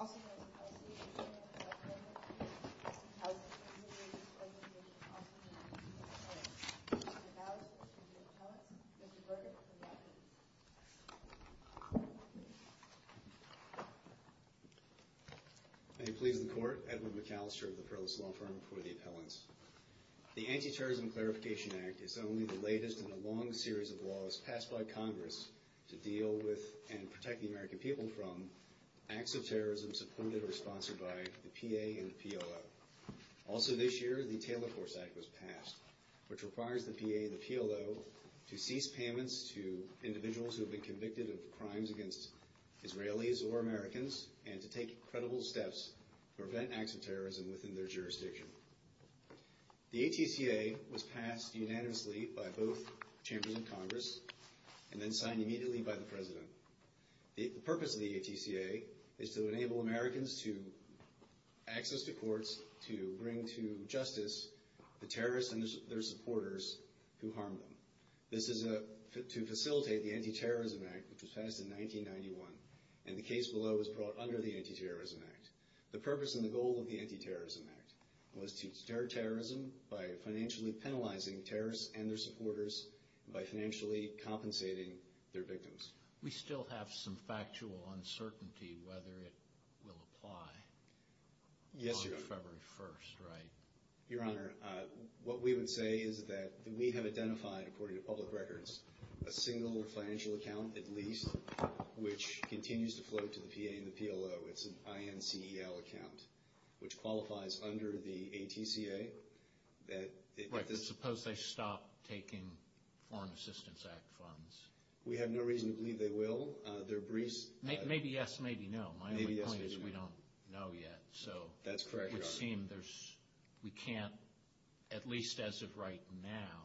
also known as the Palestinian Asylum and Self-Defense Authority, also known as the Palestinian Community Relations Organization, also known as the Palestinian Authority. Mr. Klaus, Mr. Bill Thomas, Mr. Berger, and the attendees. May it please the Court, Edwin McAllister of the Fairless Law Enforcement Association, The Anti-Terrorism Clarification Act is only the latest in a long series of laws passed by Congress to deal with and protect the American people from acts of terrorism supported or sponsored by the PA and the PLO. Also this year, the Taylor Force Act was passed, which requires the PA and the PLO to cease payments to individuals who have been convicted of crimes against Israelis or Americans and to take credible steps to prevent acts of terrorism within their jurisdiction. The ATCA was passed unanimously by both chambers of Congress and then signed immediately by the President. The purpose of the ATCA is to enable Americans to access to courts to bring to justice the terrorists and their supporters who harm them. This is to facilitate the Anti-Terrorism Act, which was passed in 1991, and the case below was brought under the Anti-Terrorism Act. The purpose and the goal of the Anti-Terrorism Act was to deter terrorism by financially penalizing terrorists and their supporters by financially compensating their victims. We still have some factual uncertainty whether it will apply on February 1st, right? Your Honor, what we would say is that we have identified, according to public records, a single financial account, at least, which continues to float to the PA and the PLO. It's an INCEL account, which qualifies under the ATCA. Right, but suppose they stop taking Foreign Assistance Act funds? We have no reason to believe they will. Maybe yes, maybe no. My only point is we don't know yet. That's correct, Your Honor. We can't, at least as of right now,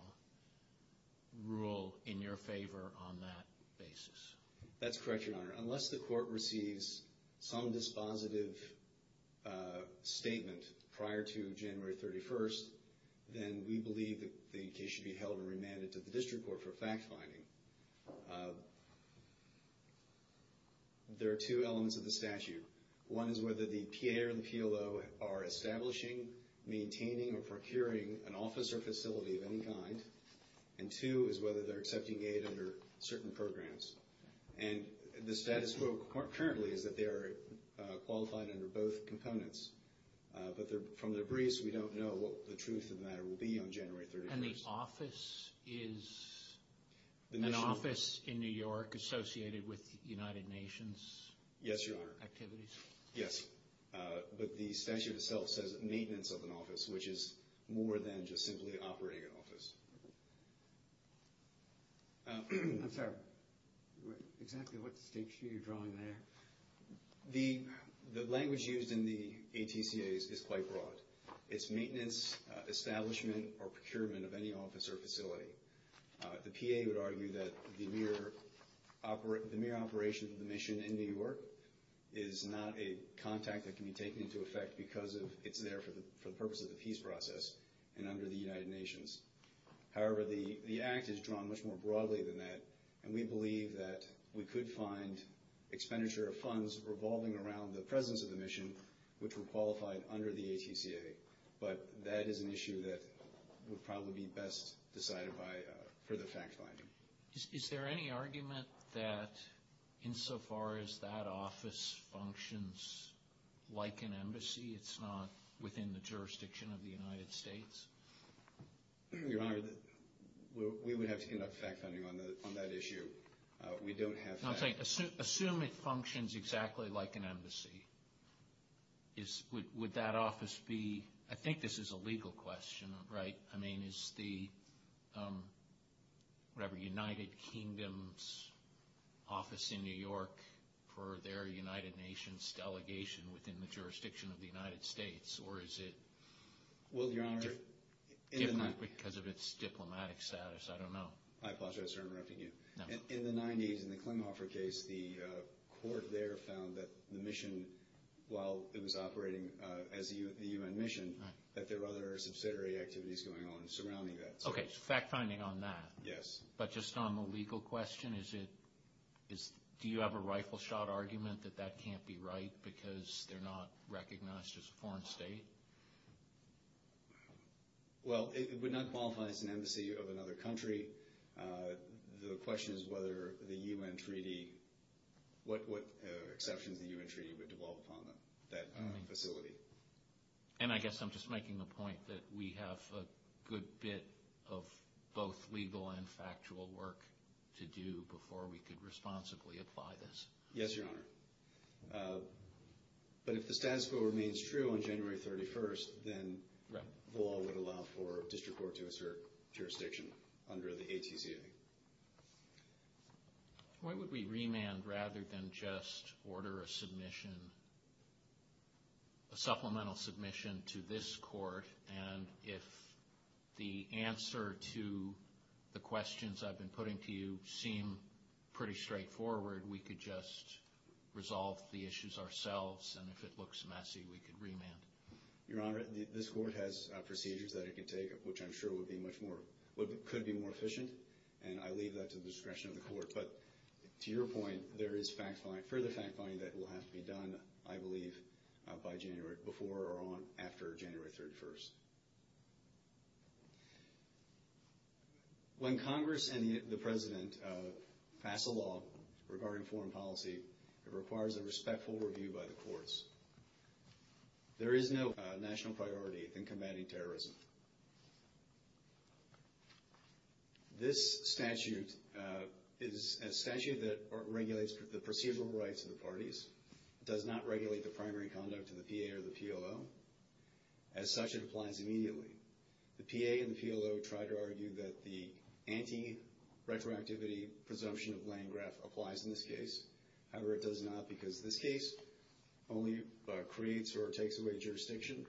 rule in your favor on that basis. That's correct, Your Honor. Unless the Court receives some dispositive statement prior to January 31st, then we believe the case should be held and remanded to the District Court for fact-finding. There are two elements of the statute. One is whether the PA or the PLO are establishing, maintaining, or procuring an office or facility of any kind. And two is whether they're accepting aid under certain programs. And the status quo currently is that they are qualified under both components. But from the briefs, we don't know what the truth of the matter will be on January 31st. And the office is an office in New York associated with the United Nations? Yes, Your Honor. Activities? Yes. But the statute itself says maintenance of an office, which is more than just simply operating an office. I'm sorry. Exactly what distinction are you drawing there? The language used in the ATCA is quite broad. It's maintenance, establishment, or procurement of any office or facility. The PA would argue that the mere operation of the mission in New York is not a contact that can be taken into effect because it's there for the purpose of the peace process and under the United Nations. However, the act is drawn much more broadly than that. And we believe that we could find expenditure of funds revolving around the presence of the mission, which were qualified under the ATCA. But that is an issue that would probably be best decided for the fact finding. Is there any argument that insofar as that office functions like an embassy, it's not within the jurisdiction of the United States? Your Honor, we would have to conduct fact finding on that issue. We don't have that. Assume it functions exactly like an embassy. Would that office be – I think this is a legal question, right? I mean, is the, whatever, United Kingdom's office in New York for their United Nations delegation within the jurisdiction of the United States? Or is it different because of its diplomatic status? I don't know. I apologize for interrupting you. No. In the 90s, in the Klemhoffer case, the court there found that the mission, while it was operating as a UN mission, that there were other subsidiary activities going on surrounding that. Okay, so fact finding on that. Yes. But just on the legal question, is it – do you have a rifle shot argument that that can't be right because they're not recognized as a foreign state? Well, it would not qualify as an embassy of another country. The question is whether the UN treaty – what exceptions the UN treaty would devolve upon that facility. And I guess I'm just making the point that we have a good bit of both legal and factual work to do before we could responsibly apply this. Yes, Your Honor. But if the status quo remains true on January 31st, then the law would allow for district court to assert jurisdiction under the ATCA. Why would we remand rather than just order a submission – a supplemental submission to this court? And if the answer to the questions I've been putting to you seem pretty straightforward, we could just resolve the issues ourselves, and if it looks messy, we could remand. Your Honor, this court has procedures that it can take, which I'm sure would be much more – could be more efficient, and I leave that to the discretion of the court. But to your point, there is further fact finding that will have to be done, I believe, by January – before or after January 31st. When Congress and the President pass a law regarding foreign policy, it requires a respectful review by the courts. There is no national priority in combating terrorism. This statute is a statute that regulates the procedural rights of the parties. It does not regulate the primary conduct of the PA or the PLO. As such, it applies immediately. The PA and the PLO try to argue that the anti-retroactivity presumption of Landgraf applies in this case. However, it does not because this case only creates or takes away jurisdiction.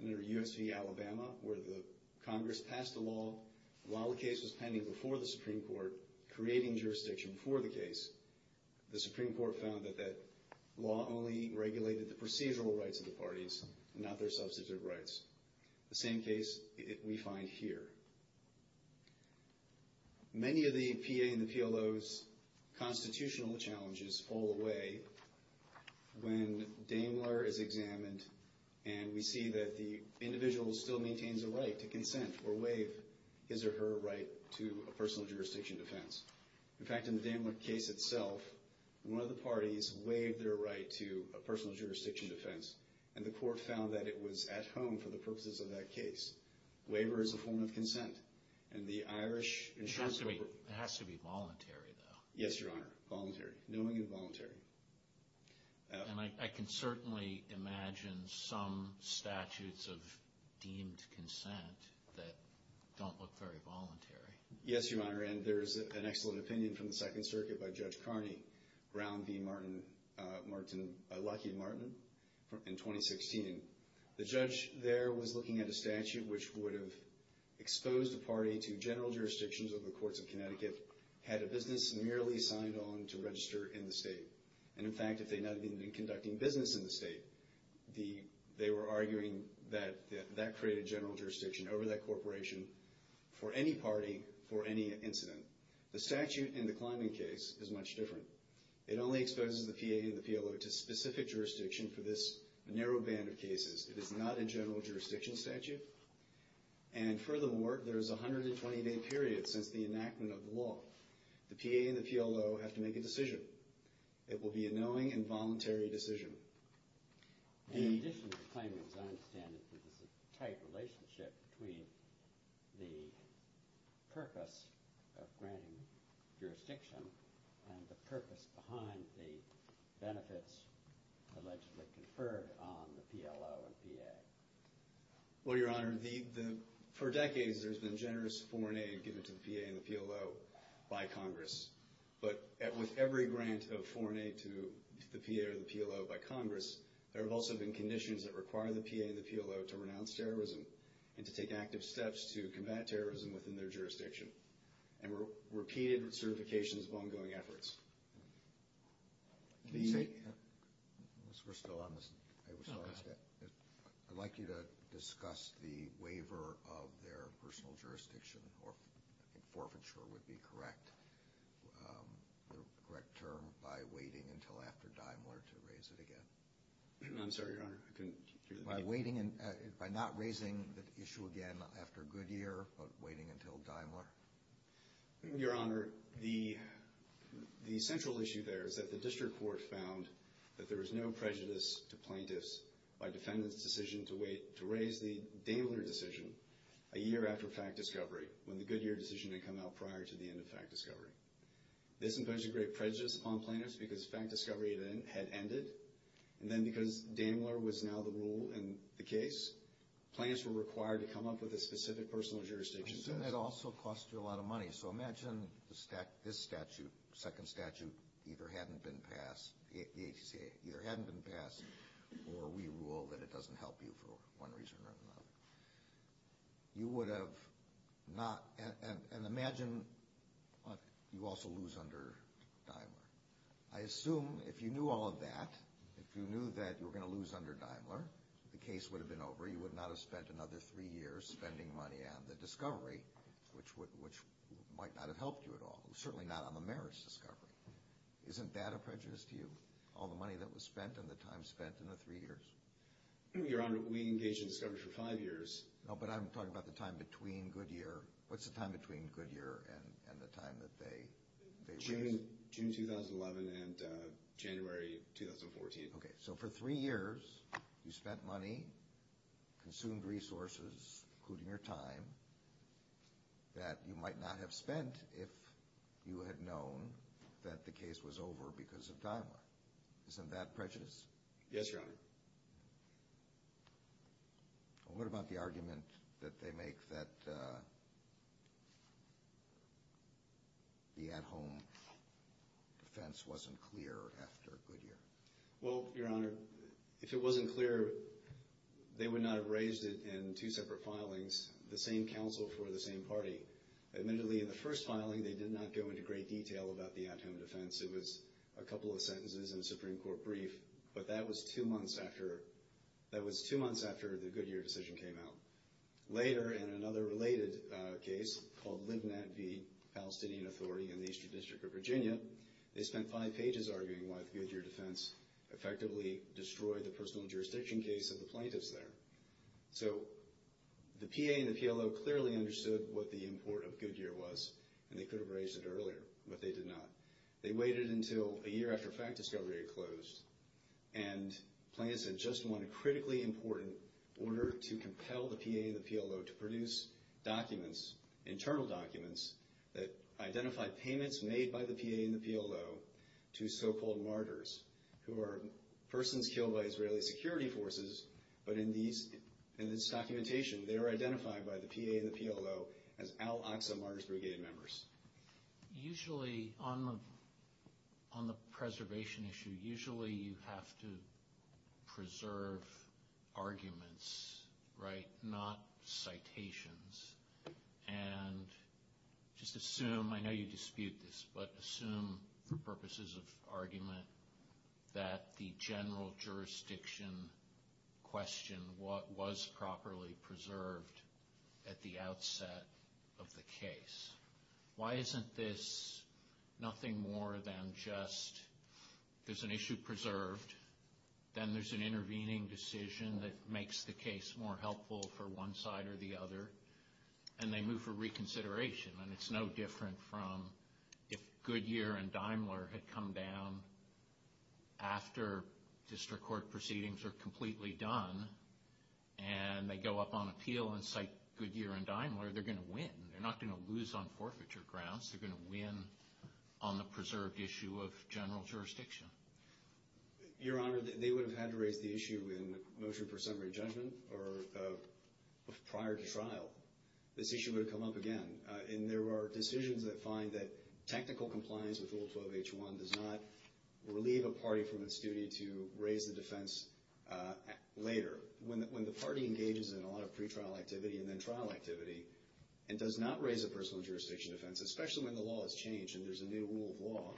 Under U.S. v. Alabama, where the Congress passed a law, while the case was pending before the Supreme Court, creating jurisdiction before the case, the Supreme Court found that that law only regulated the procedural rights of the parties, not their substantive rights. The same case we find here. Many of the PA and the PLO's constitutional challenges fall away when Daimler is examined and we see that the individual still maintains a right to consent or waive his or her right to a personal jurisdiction defense. In fact, in the Daimler case itself, one of the parties waived their right to a personal jurisdiction defense, and the court found that it was at home for the purposes of that case. Waiver is a form of consent. It has to be voluntary, though. Yes, Your Honor. Voluntary. Knowing and voluntary. And I can certainly imagine some statutes of deemed consent that don't look very voluntary. Yes, Your Honor, and there's an excellent opinion from the Second Circuit by Judge Carney around the Lucky Martin in 2016. The judge there was looking at a statute which would have exposed a party to general jurisdictions over the courts of Connecticut had a business merely signed on to register in the state. And, in fact, if they had not even been conducting business in the state, they were arguing that that created general jurisdiction over that corporation for any party for any incident. The statute in the Kleiman case is much different. It only exposes the PA and the PLO to specific jurisdiction for this narrow band of cases. It is not a general jurisdiction statute. And, furthermore, there is a 120-day period since the enactment of the law. The PA and the PLO have to make a decision. It will be a knowing and voluntary decision. In addition to Kleiman's, I understand that there's a tight relationship between the purpose of granting jurisdiction and the purpose behind the benefits allegedly conferred on the PLO and PA. Well, Your Honor, for decades there's been generous foreign aid given to the PA and the PLO by Congress. But with every grant of foreign aid to the PA or the PLO by Congress, there have also been conditions that require the PA and the PLO to renounce terrorism and to take active steps to combat terrorism within their jurisdiction, and repeated certifications of ongoing efforts. Mr. Bristow, I would like you to discuss the waiver of their personal jurisdiction, or I think forfeiture would be correct term, by waiting until after Daimler to raise it again. I'm sorry, Your Honor, I couldn't hear the question. By not raising the issue again after Goodyear, but waiting until Daimler? Your Honor, the central issue there is that the district court found that there was no prejudice to plaintiffs by defendants' decision to raise the Daimler decision a year after fact discovery, when the Goodyear decision had come out prior to the end of fact discovery. This imposes great prejudice upon plaintiffs because fact discovery had ended, and then because Daimler was now the rule in the case, plaintiffs were required to come up with a specific personal jurisdiction test. So that also cost you a lot of money. So imagine this statute, second statute, either hadn't been passed, the HCA, either hadn't been passed, or we rule that it doesn't help you for one reason or another. You would have not, and imagine you also lose under Daimler. I assume if you knew all of that, if you knew that you were going to lose under Daimler, the case would have been over, you would not have spent another three years spending money on the discovery, which might not have helped you at all, certainly not on the merits discovery. Isn't that a prejudice to you, all the money that was spent and the time spent in the three years? Your Honor, we engaged in discovery for five years. No, but I'm talking about the time between Goodyear. What's the time between Goodyear and the time that they raised? June 2011 and January 2014. Okay, so for three years you spent money, consumed resources, including your time, that you might not have spent if you had known that the case was over because of Daimler. Isn't that prejudice? Yes, Your Honor. What about the argument that they make that the at-home defense wasn't clear after Goodyear? Well, Your Honor, if it wasn't clear, they would not have raised it in two separate filings, the same counsel for the same party. Admittedly, in the first filing they did not go into great detail about the at-home defense. It was a couple of sentences and a Supreme Court brief, but that was two months after the Goodyear decision came out. Later, in another related case called Lib Nat V. Palestinian Authority in the Eastern District of Virginia, they spent five pages arguing why the Goodyear defense effectively destroyed the personal jurisdiction case of the plaintiffs there. So the PA and the PLO clearly understood what the import of Goodyear was, and they could have raised it earlier, but they did not. They waited until a year after fact discovery had closed, and plaintiffs had just won a critically important order to compel the PA and the PLO to produce documents, internal documents that identified payments made by the PA and the PLO to so-called martyrs, who are persons killed by Israeli security forces, but in this documentation they are identified by the PA and the PLO as al-Aqsa Martyrs Brigade members. Usually, on the preservation issue, usually you have to preserve arguments, right, not citations. And just assume, I know you dispute this, but assume for purposes of argument, that the general jurisdiction question was properly preserved at the outset of the case. Why isn't this nothing more than just there's an issue preserved, then there's an intervening decision that makes the case more helpful for one side or the other, and they move for reconsideration, and it's no different from if Goodyear and Daimler had come down after district court proceedings are completely done, and they go up on appeal and cite Goodyear and Daimler, they're going to win. They're not going to lose on forfeiture grounds. They're going to win on the preserved issue of general jurisdiction. Your Honor, they would have had to raise the issue in motion for summary judgment or prior to trial. This issue would have come up again. And there are decisions that find that technical compliance with Rule 12-H1 does not relieve a party from its duty to raise the defense later. When the party engages in a lot of pretrial activity and then trial activity and does not raise a personal jurisdiction defense, especially when the law has changed and there's a new rule of law,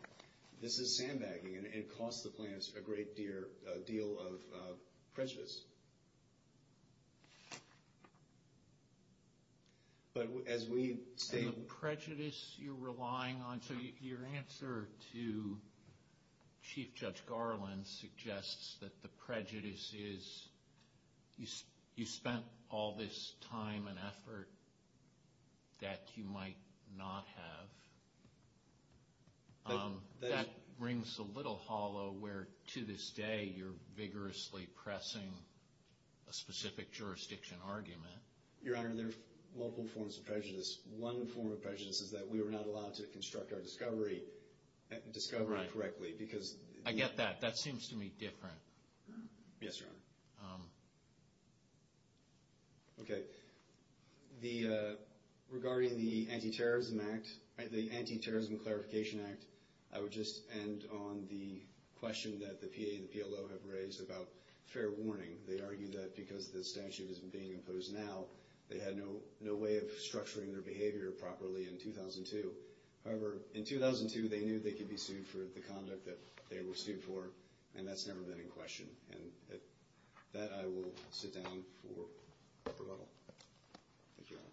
this is sandbagging, and it costs the plaintiffs a great deal of prejudice. But as we state – And the prejudice you're relying on – so your answer to Chief Judge Garland suggests that the prejudice is you spent all this time and effort that you might not have. That brings a little hollow where, to this day, you're vigorously pressing a specific jurisdiction argument. Your Honor, there are multiple forms of prejudice. One form of prejudice is that we were not allowed to construct our discovery correctly because – I get that. That seems to me different. Yes, Your Honor. Okay. Regarding the Anti-Terrorism Act – the Anti-Terrorism Clarification Act, I would just end on the question that the PA and the PLO have raised about fair warning. They argue that because the statute isn't being imposed now, they had no way of structuring their behavior properly in 2002. However, in 2002, they knew they could be sued for the conduct that they were sued for, and that's never been in question. And with that, I will sit down for rebuttal. Thank you, Your Honor.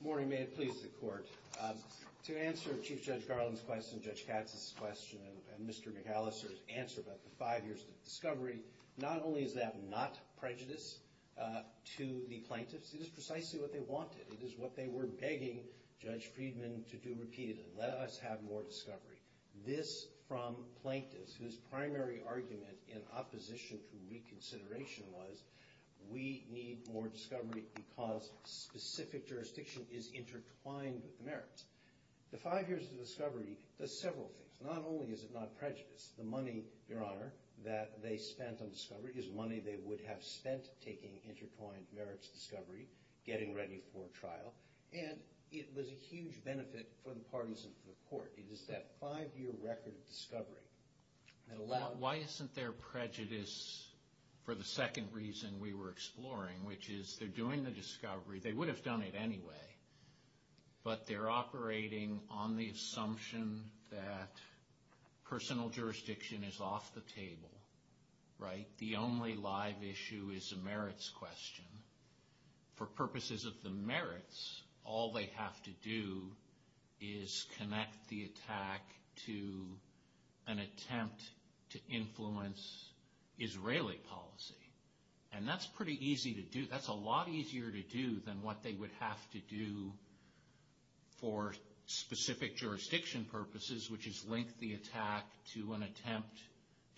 Good morning. May it please the Court. To answer Chief Judge Garland's question, Judge Katz's question, and Mr. McAllister's answer about the five years of discovery, not only is that not prejudice to the plaintiffs, it is precisely what they wanted. It is what they were begging Judge Friedman to do repeatedly, let us have more discovery. This from plaintiffs, whose primary argument in opposition to reconsideration was, we need more discovery because specific jurisdiction is intertwined with the merits. The five years of discovery does several things. Not only is it not prejudice, the money, Your Honor, that they spent on discovery is money they would have spent taking intertwined merits discovery, getting ready for a trial. And it was a huge benefit for the parties of the Court. It is that five-year record of discovery. Why isn't there prejudice for the second reason we were exploring, which is they're doing the discovery. They would have done it anyway. But they're operating on the assumption that personal jurisdiction is off the table, right? The only live issue is a merits question. For purposes of the merits, all they have to do is connect the attack to an attempt to influence Israeli policy. And that's pretty easy to do. That's a lot easier to do than what they would have to do for specific jurisdiction purposes, which is link the attack to an attempt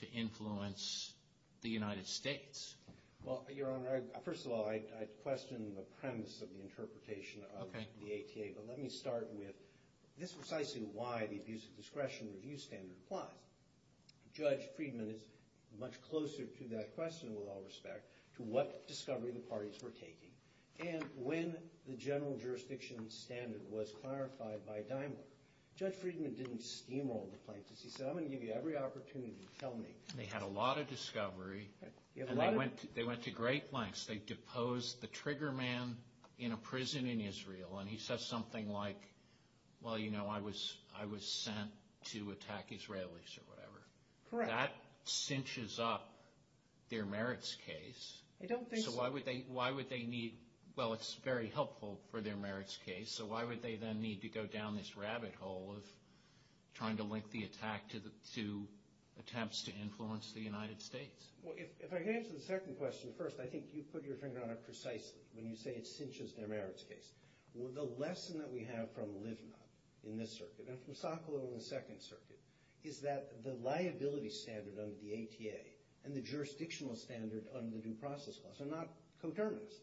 to influence the United States. Well, Your Honor, first of all, I question the premise of the interpretation of the ATA. Okay. But let me start with this precisely why the abuse of discretion review standard applies. Judge Friedman is much closer to that question, with all respect, to what discovery the parties were taking. And when the general jurisdiction standard was clarified by Daimler, Judge Friedman didn't steamroll the plaintiffs. He said, I'm going to give you every opportunity. Tell me. They had a lot of discovery. And they went to great lengths. They deposed the trigger man in a prison in Israel. And he says something like, well, you know, I was sent to attack Israelis or whatever. That cinches up their merits case. I don't think so. So why would they need – well, it's very helpful for their merits case. So why would they then need to go down this rabbit hole of trying to link the attack to attempts to influence the United States? Well, if I can answer the second question first, I think you put your finger on it precisely when you say it cinches their merits case. The lesson that we have from Livna in this circuit and from Sokolow in the Second Circuit is that the liability standard under the ATA and the jurisdictional standard under the Due Process Clause are not coterminous.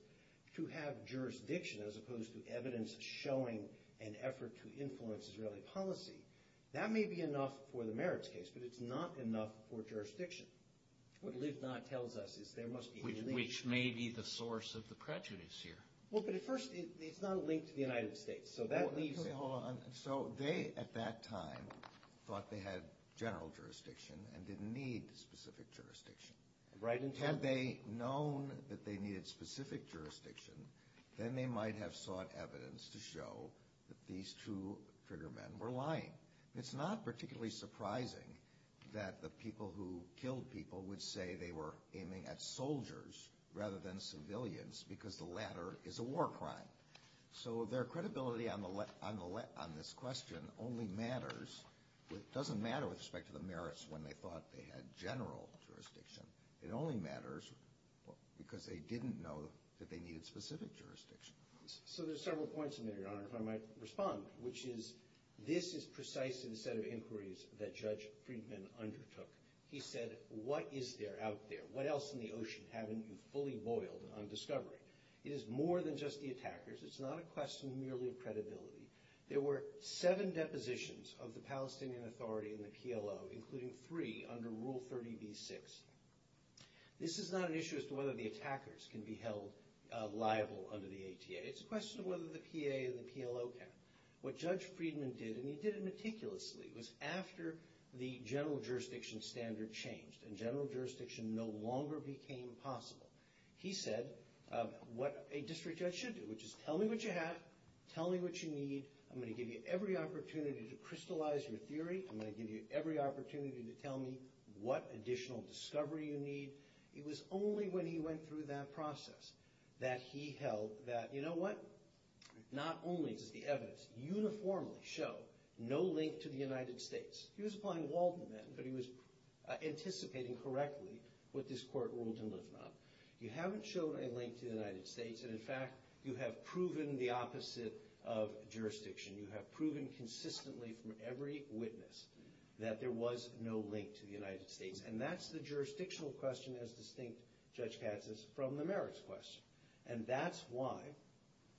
To have jurisdiction as opposed to evidence showing an effort to influence Israeli policy, that may be enough for the merits case, but it's not enough for jurisdiction. What Livna tells us is there must be a link. Which may be the source of the prejudice here. Well, but at first, it's not a link to the United States. So they, at that time, thought they had general jurisdiction and didn't need specific jurisdiction. Had they known that they needed specific jurisdiction, then they might have sought evidence to show that these two trigger men were lying. It's not particularly surprising that the people who killed people would say they were aiming at soldiers rather than civilians because the latter is a war crime. So their credibility on this question only matters. It doesn't matter with respect to the merits when they thought they had general jurisdiction. It only matters because they didn't know that they needed specific jurisdiction. So there's several points in there, Your Honor, if I might respond, which is this is precise to the set of inquiries that Judge Friedman undertook. He said, what is there out there? What else in the ocean haven't you fully boiled on discovery? It is more than just the attackers. It's not a question merely of credibility. There were seven depositions of the Palestinian Authority and the PLO, including three under Rule 30b-6. This is not an issue as to whether the attackers can be held liable under the ATA. It's a question of whether the PA and the PLO can. What Judge Friedman did, and he did it meticulously, was after the general jurisdiction standard changed and general jurisdiction no longer became possible, he said what a district judge should do, which is tell me what you have, tell me what you need. I'm going to give you every opportunity to crystallize your theory. I'm going to give you every opportunity to tell me what additional discovery you need. It was only when he went through that process that he held that, you know what, not only does the evidence uniformly show no link to the United States. He was applying Walden then, but he was anticipating correctly what this court ruled to live on. You haven't shown a link to the United States, and, in fact, you have proven the opposite of jurisdiction. You have proven consistently from every witness that there was no link to the United States, and that's the jurisdictional question as distinct, Judge Katz says, from the merits question. And that's why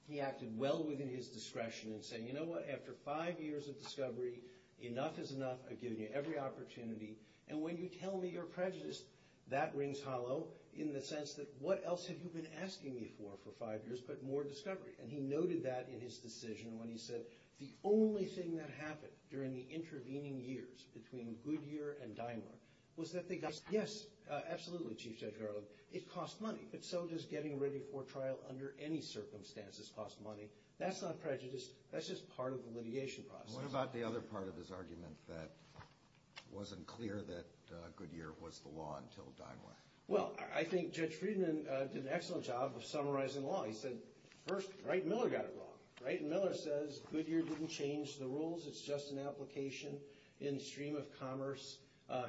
he acted well within his discretion in saying, you know what, after five years of discovery, enough is enough. I've given you every opportunity, and when you tell me you're prejudiced, that rings hollow in the sense that what else have you been asking me for for five years but more discovery? And he noted that in his decision when he said the only thing that happened during the intervening years between Goodyear and Daimler was that they got – yes, absolutely, Chief Judge Garland. It cost money, but so does getting ready for trial under any circumstances cost money. That's not prejudice. That's just part of the litigation process. What about the other part of his argument that wasn't clear that Goodyear was the law until Daimler? Well, I think Judge Friedman did an excellent job of summarizing the law. He said, first, Wright and Miller got it wrong. Wright and Miller says Goodyear didn't change the rules. It's just an application in the stream of commerce,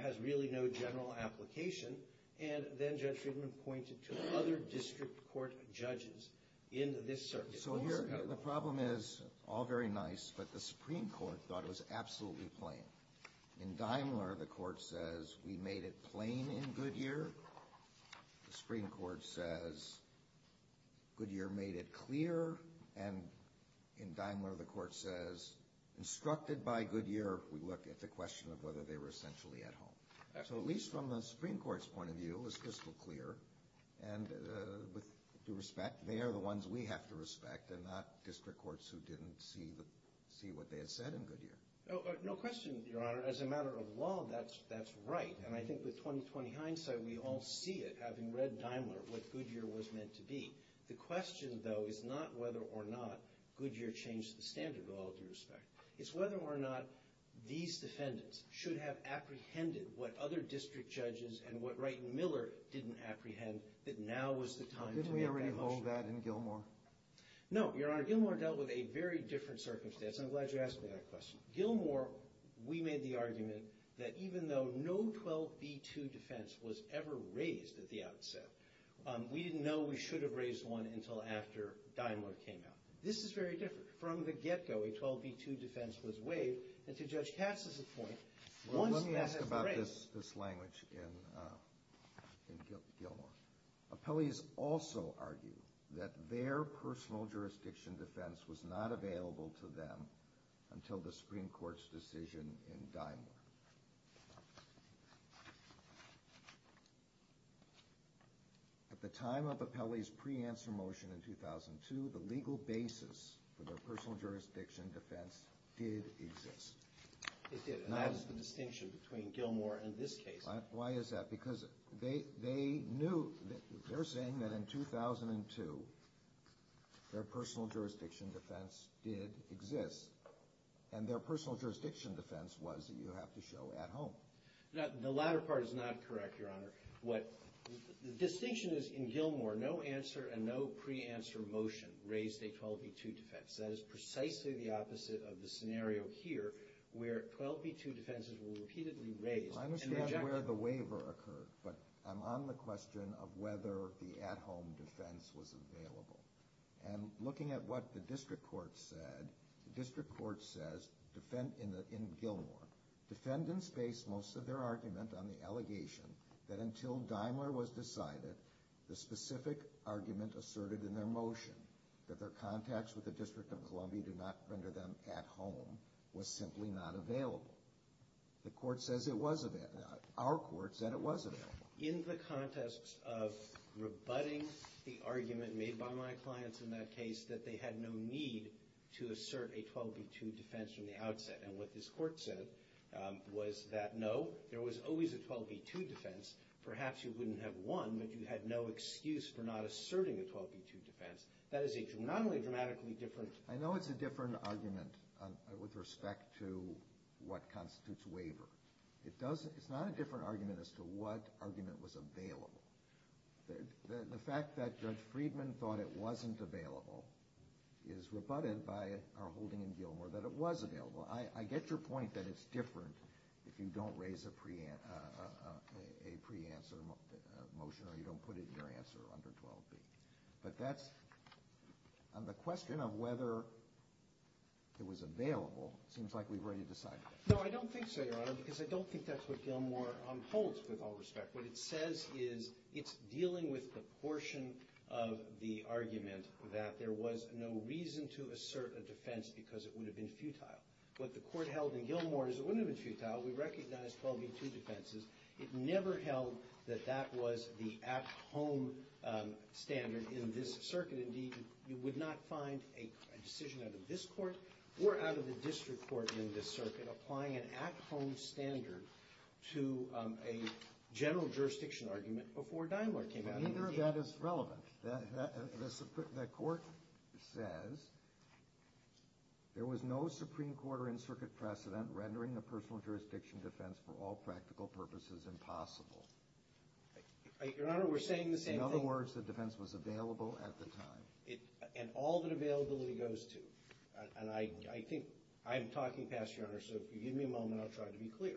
has really no general application. And then Judge Friedman pointed to other district court judges in this circuit. So the problem is all very nice, but the Supreme Court thought it was absolutely plain. In Daimler, the court says we made it plain in Goodyear. The Supreme Court says Goodyear made it clear. And in Daimler, the court says instructed by Goodyear, we look at the question of whether they were essentially at home. So at least from the Supreme Court's point of view, it was crystal clear. And with due respect, they are the ones we have to respect and not district courts who didn't see what they had said in Goodyear. No question, Your Honor. As a matter of law, that's right. And I think with 20-20 hindsight, we all see it, having read Daimler, what Goodyear was meant to be. The question, though, is not whether or not Goodyear changed the standard at all, with due respect. It's whether or not these defendants should have apprehended what other district judges and what Wright and Miller didn't apprehend that now was the time to make that motion. Didn't we already hold that in Gilmore? No, Your Honor. Gilmore dealt with a very different circumstance. I'm glad you asked me that question. Gilmore, we made the argument that even though no 12b-2 defense was ever raised at the outset, we didn't know we should have raised one until after Daimler came out. This is very different. From the get-go, a 12b-2 defense was waived, and to Judge Katz's point, once that had been raised— Well, let me ask about this language in Gilmore. Appellees also argue that their personal jurisdiction defense was not available to them until the Supreme Court's decision in Daimler. At the time of Appellee's pre-answer motion in 2002, the legal basis for their personal jurisdiction defense did exist. It did, and that is the distinction between Gilmore and this case. Why is that? Because they knew—they're saying that in 2002, their personal jurisdiction defense did exist, and their personal jurisdiction defense was that you have to show at home. The latter part is not correct, Your Honor. What—the distinction is in Gilmore, no answer and no pre-answer motion raised a 12b-2 defense. That is precisely the opposite of the scenario here, where 12b-2 defenses were repeatedly raised— I'm not sure where the waiver occurred, but I'm on the question of whether the at-home defense was available. And looking at what the district court said, the district court says in Gilmore, defendants based most of their argument on the allegation that until Daimler was decided, the specific argument asserted in their motion, that their contacts with the District of Columbia did not render them at home, was simply not available. The court says it was—our court said it was available. In the context of rebutting the argument made by my clients in that case, that they had no need to assert a 12b-2 defense from the outset, and what this Court said was that, no, there was always a 12b-2 defense. Perhaps you wouldn't have won, but you had no excuse for not asserting a 12b-2 defense. That is a not only dramatically different— I know it's a different argument with respect to what constitutes waiver. It's not a different argument as to what argument was available. The fact that Judge Friedman thought it wasn't available is rebutted by our holding in Gilmore that it was available. I get your point that it's different if you don't raise a preanswer motion or you don't put it in your answer under 12b. But that's—and the question of whether it was available seems like we've already decided it. No, I don't think so, Your Honor, because I don't think that's what Gilmore holds, with all respect. What it says is it's dealing with the portion of the argument that there was no reason to assert a defense because it would have been futile. What the Court held in Gilmore is it wouldn't have been futile. We recognized 12b-2 defenses. It never held that that was the at-home standard in this circuit. Indeed, you would not find a decision out of this Court or out of the district court in this circuit applying an at-home standard to a general jurisdiction argument before Daimler came out. Neither of that is relevant. The Court says there was no Supreme Court or in-circuit precedent rendering a personal jurisdiction defense for all practical purposes impossible. Your Honor, we're saying the same thing— and all that availability goes to. And I think—I'm talking, Pastor, Your Honor, so if you give me a moment, I'll try to be clear.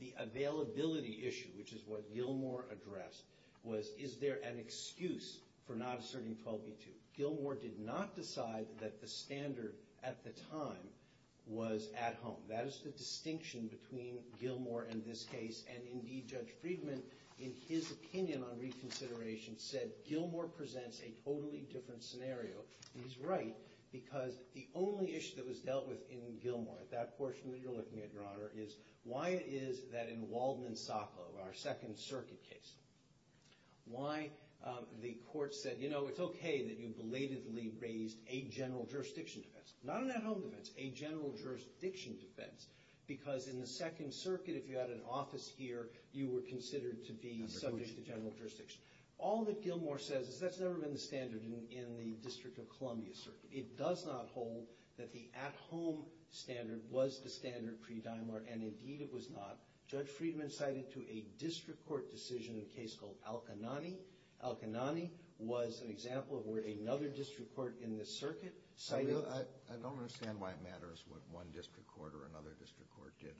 The availability issue, which is what Gilmore addressed, was is there an excuse for not asserting 12b-2? Gilmore did not decide that the standard at the time was at home. That is the distinction between Gilmore in this case and, indeed, Judge Friedman, in his opinion on reconsideration, said Gilmore presents a totally different scenario. And he's right, because the only issue that was dealt with in Gilmore, that portion that you're looking at, Your Honor, is why is that in Waldman-Sacco, our Second Circuit case, why the Court said, you know, it's okay that you belatedly raised a general jurisdiction defense. Not an at-home defense, a general jurisdiction defense, because in the Second Circuit, if you had an office here, you were considered to be subject to general jurisdiction. All that Gilmore says is that's never been the standard in the District of Columbia circuit. It does not hold that the at-home standard was the standard pre-Dimlar, and, indeed, it was not. Judge Friedman cited to a district court decision in a case called Al-Qa'nani. Al-Qa'nani was an example of where another district court in this circuit cited—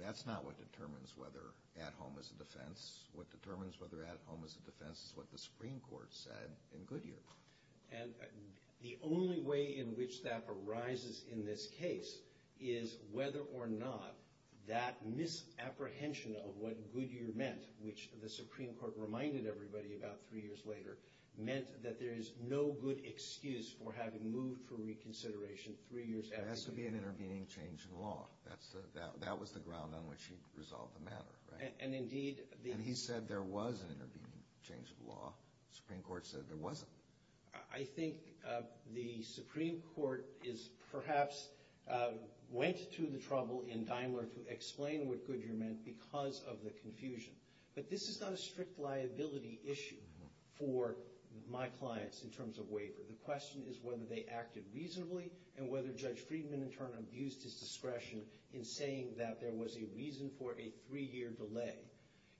That's not what determines whether at-home is a defense. What determines whether at-home is a defense is what the Supreme Court said in Goodyear. And the only way in which that arises in this case is whether or not that misapprehension of what Goodyear meant, which the Supreme Court reminded everybody about three years later, meant that there is no good excuse for having moved for reconsideration three years after— There has to be an intervening change in law. That was the ground on which he resolved the matter, right? And, indeed— And he said there was an intervening change in law. The Supreme Court said there wasn't. I think the Supreme Court is perhaps—went to the trouble in Dimlar to explain what Goodyear meant because of the confusion. But this is not a strict liability issue for my clients in terms of waiver. The question is whether they acted reasonably and whether Judge Friedman, in turn, abused his discretion in saying that there was a reason for a three-year delay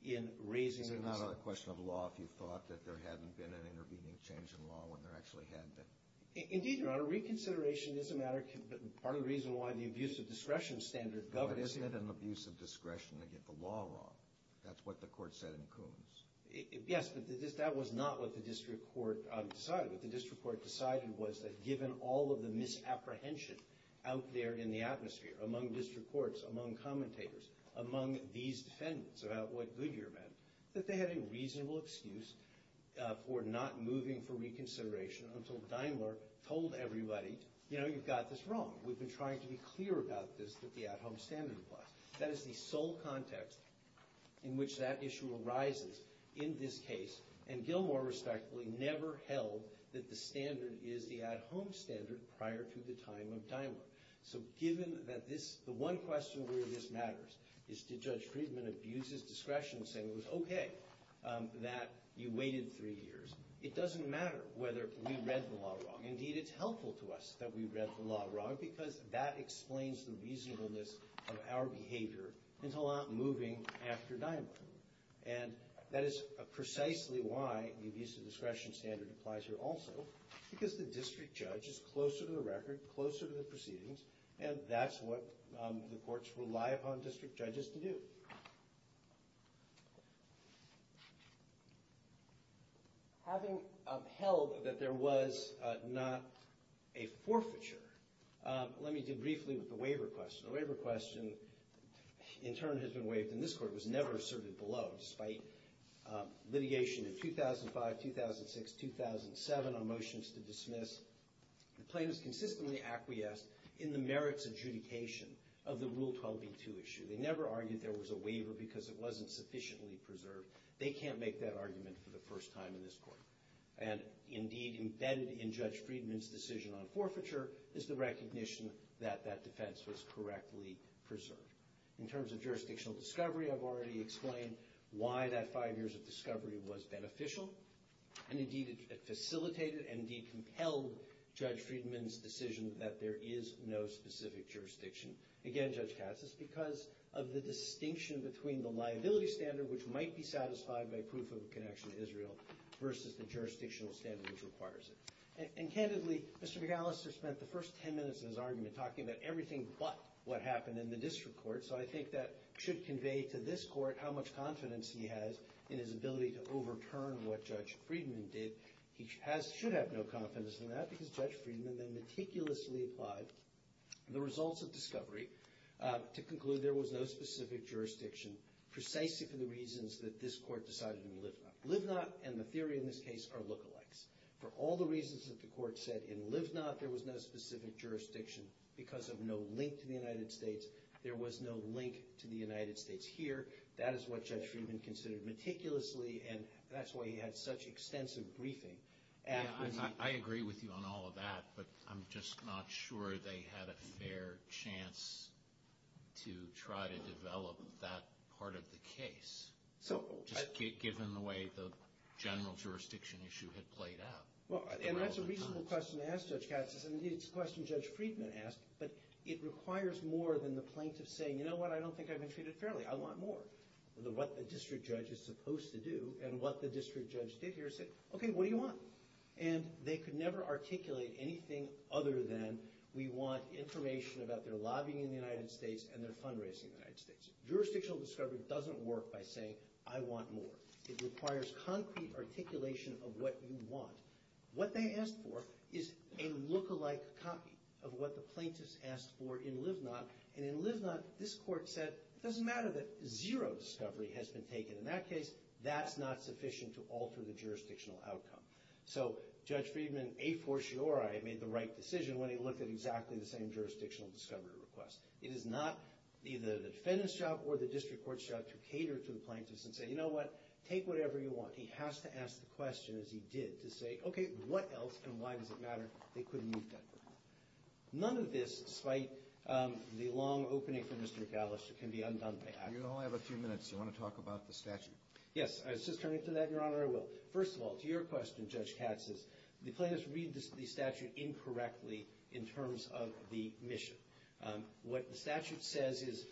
in raising their decision. Is it not a question of law if you thought that there hadn't been an intervening change in law when there actually had been? Indeed, Your Honor, reconsideration is a matter—part of the reason why the abuse of discretion standard governs— But isn't it an abuse of discretion to get the law wrong? That's what the court said in Coons. Yes, but that was not what the district court decided. What the district court decided was that given all of the misapprehension out there in the atmosphere, among district courts, among commentators, among these defendants about what Goodyear meant, that they had a reasonable excuse for not moving for reconsideration until Dimlar told everybody, you know, you've got this wrong. We've been trying to be clear about this with the at-home standard clause. That is the sole context in which that issue arises in this case, and Gilmore, respectfully, never held that the standard is the at-home standard prior to the time of Dimlar. So given that this—the one question where this matters is did Judge Friedman abuse his discretion saying it was okay that you waited three years? It doesn't matter whether we read the law wrong. Not because that explains the reasonableness of our behavior into not moving after Dimlar. And that is precisely why the abuse of discretion standard applies here also, because the district judge is closer to the record, closer to the proceedings, and that's what the courts rely upon district judges to do. Having held that there was not a forfeiture, let me do briefly with the waiver question. The waiver question, in turn, has been waived in this court, was never asserted below. Despite litigation in 2005, 2006, 2007 on motions to dismiss, the plaintiffs consistently acquiesced in the merits adjudication of the Rule 12b-2 issue. They never argued there was a waiver because it wasn't sufficiently preserved. They can't make that argument for the first time in this court. And, indeed, embedded in Judge Friedman's decision on forfeiture is the recognition that that defense was correctly preserved. In terms of jurisdictional discovery, I've already explained why that five years of discovery was beneficial. And, indeed, it facilitated and, indeed, compelled Judge Friedman's decision that there is no specific jurisdiction. Again, Judge Katz, it's because of the distinction between the liability standard, which might be satisfied by proof of a connection to Israel, versus the jurisdictional standard which requires it. And, candidly, Mr. McAllister spent the first ten minutes of his argument talking about everything but what happened in the district court. So I think that should convey to this court how much confidence he has in his ability to overturn what Judge Friedman did. He should have no confidence in that because Judge Friedman then meticulously applied the results of discovery to conclude there was no specific jurisdiction, precisely for the reasons that this court decided in Livna. Livna and the theory in this case are look-alikes. For all the reasons that the court said in Livna, there was no specific jurisdiction because of no link to the United States. There was no link to the United States here. That is what Judge Friedman considered meticulously, and that's why he had such extensive briefing. I agree with you on all of that, but I'm just not sure they had a fair chance to try to develop that part of the case, just given the way the general jurisdiction issue had played out. And that's a reasonable question to ask Judge Katz. It's a question Judge Friedman asked, but it requires more than the plaintiff saying, you know what, I don't think I've been treated fairly. I want more. What the district judge is supposed to do and what the district judge did here is say, okay, what do you want? And they could never articulate anything other than we want information about their lobbying in the United States and their fundraising in the United States. Jurisdictional discovery doesn't work by saying, I want more. It requires concrete articulation of what you want. What they asked for is a look-alike copy of what the plaintiffs asked for in Livna, and in Livna, this court said it doesn't matter that zero discovery has been taken in that case. That's not sufficient to alter the jurisdictional outcome. So Judge Friedman, a fortiori, made the right decision when he looked at exactly the same jurisdictional discovery request. It is not either the defendant's job or the district court's job to cater to the plaintiffs and say, you know what, take whatever you want. He has to ask the question, as he did, to say, okay, what else and why does it matter? They couldn't move that. None of this, despite the long opening for Mr. Gallister, can be undone by action. You only have a few minutes. Do you want to talk about the statute? Yes. I was just turning to that, Your Honor. I will. First of all, to your question, Judge Katz, is the plaintiffs read the statute incorrectly in terms of the mission. What the statute says is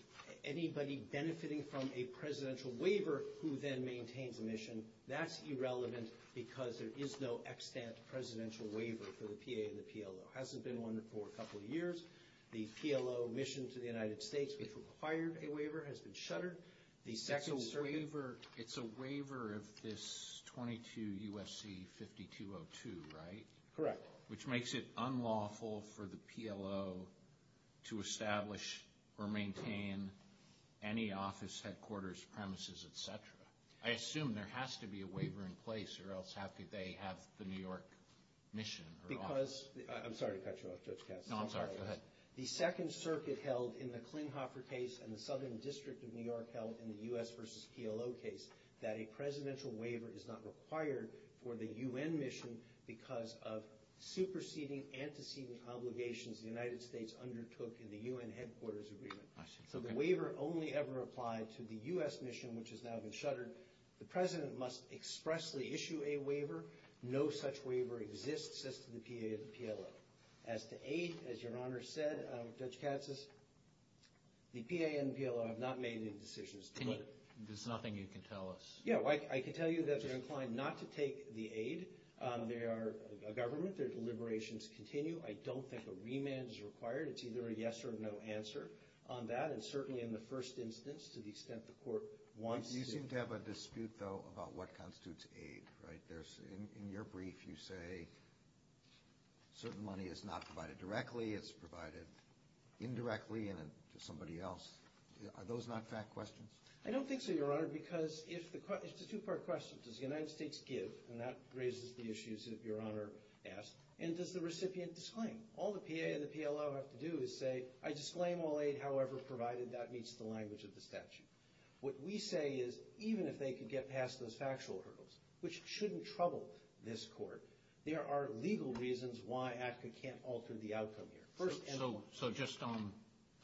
anybody benefiting from a presidential waiver who then maintains a mission, that's irrelevant because there is no extant presidential waiver for the PA and the PLO. It hasn't been one for a couple of years. The PLO mission to the United States, which required a waiver, has been shuttered. It's a waiver of this 22 U.S.C. 5202, right? Correct. Which makes it unlawful for the PLO to establish or maintain any office, headquarters, premises, et cetera. I assume there has to be a waiver in place or else they have the New York mission or office. I'm sorry to cut you off, Judge Katz. No, I'm sorry. Go ahead. The Second Circuit held in the Klinghoffer case and the Southern District of New York held in the U.S. versus PLO case that a presidential waiver is not required for the U.N. mission because of superseding antecedent obligations the United States undertook in the U.N. headquarters agreement. I see. So the waiver only ever applied to the U.S. mission, which has now been shuttered. The president must expressly issue a waiver. No such waiver exists as to the PA and the PLO. As to aid, as Your Honor said, Judge Katz, the PA and the PLO have not made any decisions. There's nothing you can tell us. Yeah, I can tell you that they're inclined not to take the aid. They are a government. Their deliberations continue. I don't think a remand is required. It's either a yes or a no answer on that, and certainly in the first instance, to the extent the court wants to. You seem to have a dispute, though, about what constitutes aid, right? In your brief, you say certain money is not provided directly. It's provided indirectly and to somebody else. Are those not fact questions? I don't think so, Your Honor, because it's a two-part question. Does the United States give? And that raises the issues that Your Honor asked. And does the recipient disclaim? All the PA and the PLO have to do is say, I disclaim all aid, however provided that meets the language of the statute. What we say is, even if they could get past those factual hurdles, which shouldn't trouble this court, there are legal reasons why ACCA can't alter the outcome here. So just on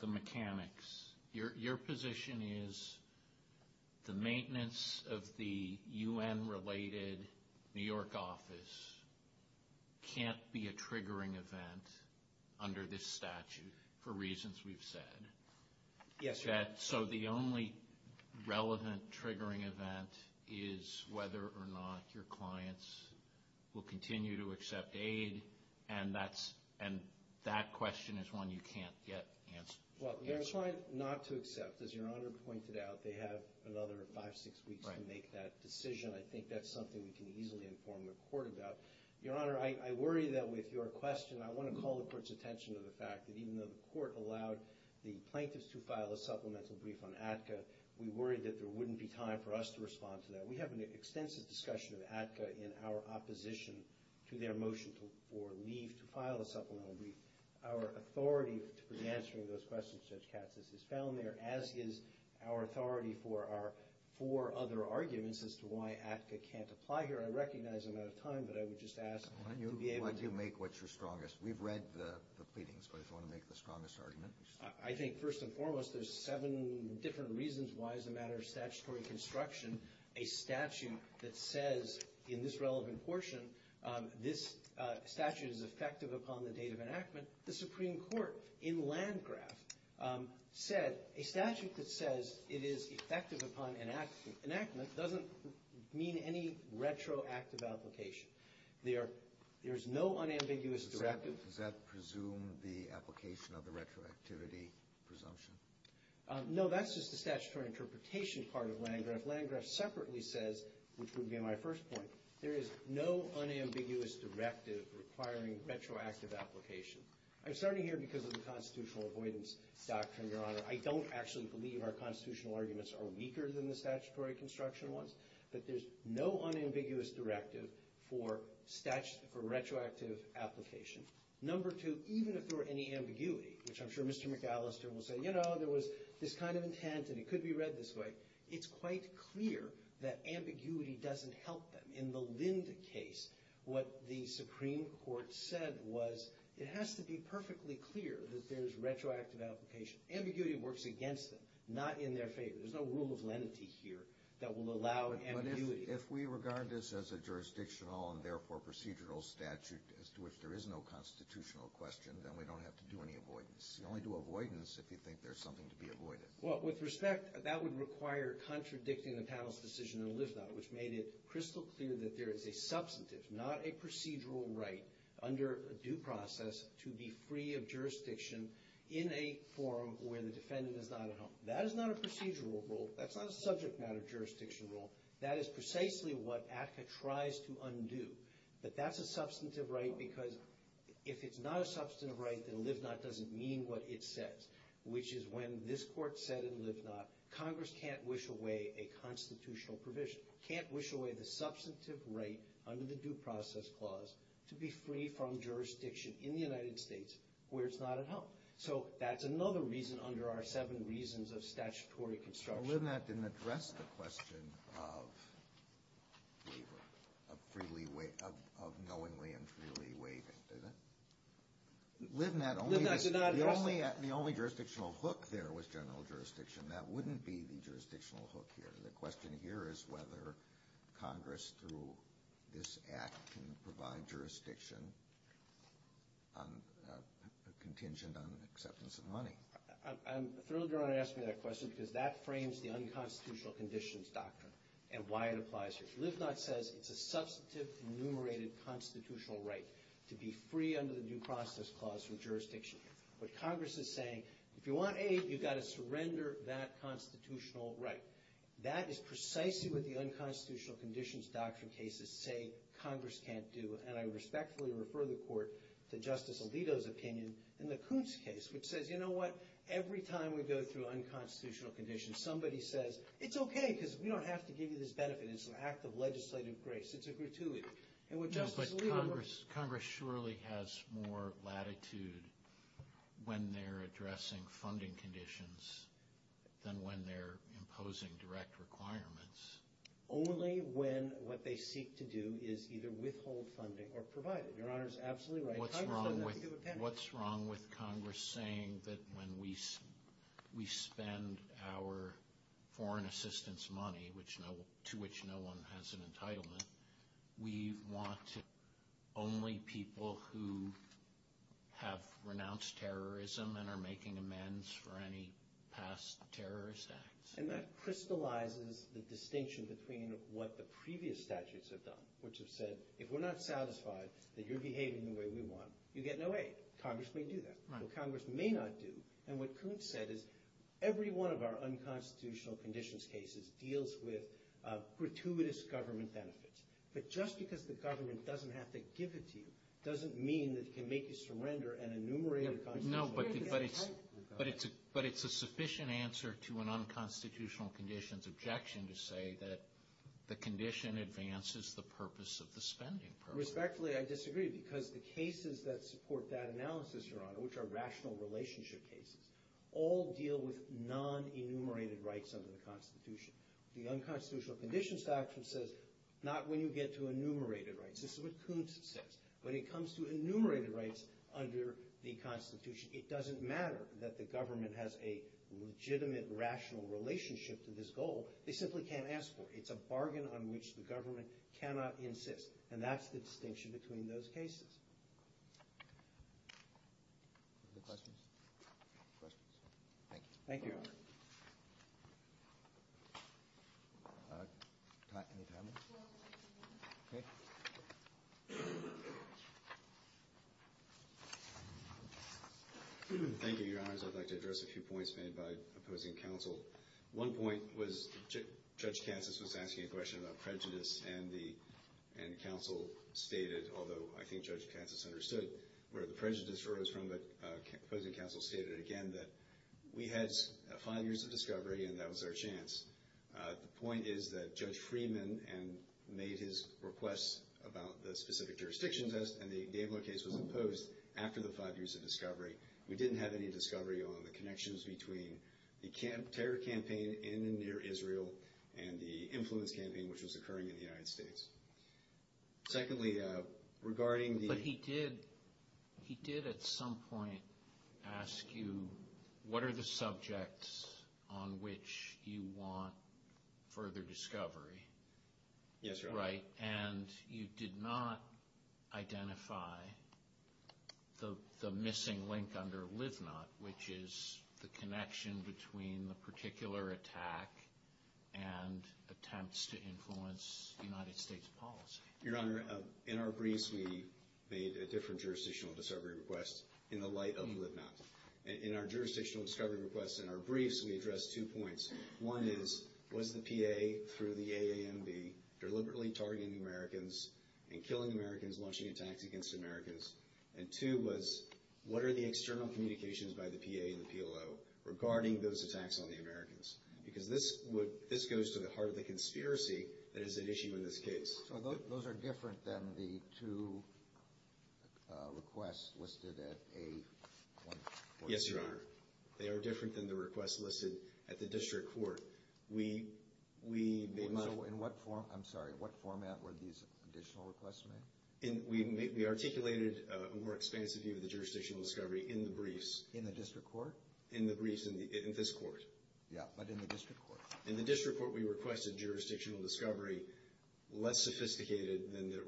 the mechanics, your position is the maintenance of the U.N.-related New York office can't be a triggering event under this statute for reasons we've said? Yes, Your Honor. So the only relevant triggering event is whether or not your clients will continue to accept aid, and that question is one you can't yet answer? Well, they're trying not to accept. As Your Honor pointed out, they have another five, six weeks to make that decision. I think that's something we can easily inform the court about. Your Honor, I worry that with your question, I want to call the court's attention to the fact that, even though the court allowed the plaintiffs to file a supplemental brief on ACCA, we worry that there wouldn't be time for us to respond to that. We have an extensive discussion of ACCA in our opposition to their motion for leave to file a supplemental brief. Our authority to be answering those questions, Judge Katsas, is found there, as is our authority for our four other arguments as to why ACCA can't apply here. I recognize I'm out of time, but I would just ask to be able to ---- Why do you make what's your strongest? We've read the pleadings, but if you want to make the strongest argument. I think, first and foremost, there's seven different reasons why as a matter of statutory construction a statute that says, in this relevant portion, this statute is effective upon the date of enactment. The Supreme Court, in Landgraf, said a statute that says it is effective upon enactment doesn't mean any retroactive application. There's no unambiguous directive. Does that presume the application of the retroactivity presumption? If Landgraf separately says, which would be my first point, there is no unambiguous directive requiring retroactive application. I'm starting here because of the constitutional avoidance doctrine, Your Honor. I don't actually believe our constitutional arguments are weaker than the statutory construction ones, but there's no unambiguous directive for retroactive application. Number two, even if there were any ambiguity, which I'm sure Mr. McAllister will say, you know, there was this kind of intent and it could be read this way, it's quite clear that ambiguity doesn't help them. In the Lind case, what the Supreme Court said was it has to be perfectly clear that there's retroactive application. Ambiguity works against them, not in their favor. There's no rule of lenity here that will allow ambiguity. But if we regard this as a jurisdictional and, therefore, procedural statute as to which there is no constitutional question, then we don't have to do any avoidance. You only do avoidance if you think there's something to be avoided. Well, with respect, that would require contradicting the panel's decision in Livnot, which made it crystal clear that there is a substantive, not a procedural, right under due process to be free of jurisdiction in a forum where the defendant is not at home. That is not a procedural rule. That's not a subject matter jurisdiction rule. That is precisely what ACCA tries to undo. But that's a substantive right because if it's not a substantive right, then Livnot doesn't mean what it says, which is when this Court said in Livnot, Congress can't wish away a constitutional provision, can't wish away the substantive right under the due process clause to be free from jurisdiction in the United States where it's not at home. So that's another reason under our seven reasons of statutory construction. Livnot didn't address the question of waiver, of knowingly and freely waiving, did it? Livnot, the only jurisdictional hook there was general jurisdiction. That wouldn't be the jurisdictional hook here. The question here is whether Congress through this Act can provide jurisdiction contingent on acceptance of money. I'm thrilled Your Honor asked me that question because that frames the unconstitutional conditions doctrine and why it applies here. Livnot says it's a substantive enumerated constitutional right to be free under the due process clause from jurisdiction. But Congress is saying if you want aid, you've got to surrender that constitutional right. That is precisely what the unconstitutional conditions doctrine cases say Congress can't do. And I respectfully refer the Court to Justice Alito's opinion in the Coons case, which says, you know what, every time we go through unconstitutional conditions, somebody says, it's okay because we don't have to give you this benefit. It's an act of legislative grace. It's a gratuity. No, but Congress surely has more latitude when they're addressing funding conditions than when they're imposing direct requirements. Only when what they seek to do is either withhold funding or provide it. Your Honor is absolutely right. Congress doesn't have to give a penny. What's wrong with Congress saying that when we spend our foreign assistance money, to which no one has an entitlement, we want only people who have renounced terrorism and are making amends for any past terrorist acts? And that crystallizes the distinction between what the previous statutes have done, which have said, if we're not satisfied that you're behaving the way we want, you get no aid. Congress may do that. What Congress may not do, and what Coons said, is every one of our unconstitutional conditions cases deals with gratuitous government benefits. But just because the government doesn't have to give it to you, doesn't mean that it can make you surrender an enumerated constitution. No, but it's a sufficient answer to an unconstitutional conditions objection to say that the condition advances the purpose of the spending program. Respectfully, I disagree, because the cases that support that analysis, Your Honor, which are rational relationship cases, all deal with non-enumerated rights under the Constitution. The unconstitutional conditions doctrine says not when you get to enumerated rights. This is what Coons says. When it comes to enumerated rights under the Constitution, it doesn't matter that the government has a legitimate, rational relationship to this goal. They simply can't ask for it. It's a bargain on which the government cannot insist, and that's the distinction between those cases. Other questions? Questions? Thank you. Thank you, Your Honor. Any time limits? Okay. Thank you, Your Honors. I'd like to address a few points made by opposing counsel. One point was Judge Katsas was asking a question about prejudice, and counsel stated, although I think Judge Katsas understood where the prejudice arose from, but opposing counsel stated again that we had five years of discovery and that was our chance. The point is that Judge Freeman made his request about the specific jurisdictions, and the Daibler case was imposed after the five years of discovery. We didn't have any discovery on the connections between the terror campaign in and near Israel and the influence campaign which was occurring in the United States. Secondly, regarding the But he did at some point ask you what are the subjects on which you want further discovery. Yes, Your Honor. Right, and you did not identify the missing link under LIVNOT, which is the connection between the particular attack and attempts to influence United States policy. Your Honor, in our briefs we made a different jurisdictional discovery request in the light of LIVNOT. In our jurisdictional discovery requests in our briefs we addressed two points. One is, was the PA through the AAMB deliberately targeting Americans and killing Americans launching attacks against Americans? And two was, what are the external communications by the PA and the PLO regarding those attacks on the Americans? Because this goes to the heart of the conspiracy that is at issue in this case. So those are different than the two requests listed at A143? Yes, Your Honor. They are different than the requests listed at the district court. In what format were these additional requests made? We articulated a more expansive view of the jurisdictional discovery in the briefs. In the district court? In the briefs in this court. Yeah, but in the district court. In the district court we requested jurisdictional discovery less sophisticated than the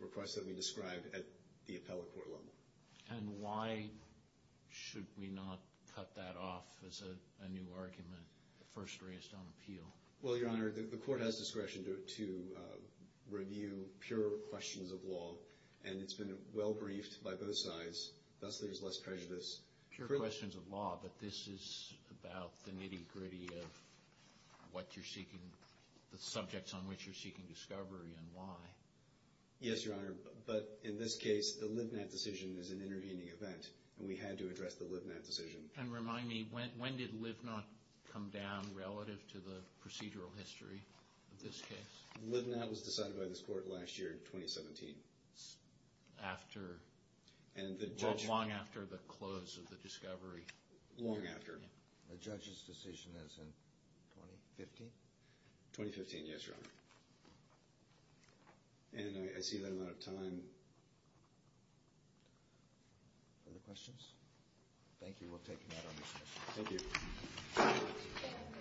requests that we described at the appellate court level. And why should we not cut that off as a new argument first raised on appeal? Well, Your Honor, the court has discretion to review pure questions of law, and it's been well briefed by both sides, thus there's less prejudice. Pure questions of law, but this is about the nitty-gritty of what you're seeking, the subjects on which you're seeking discovery and why. Yes, Your Honor, but in this case the Livnat decision is an intervening event, and we had to address the Livnat decision. And remind me, when did Livnat come down relative to the procedural history of this case? Livnat was decided by this court last year in 2017. Long after the close of the discovery. Long after. The judge's decision is in 2015? 2015, yes, Your Honor. And I see that I'm out of time. Other questions? Thank you. We'll take that on this motion. Thank you.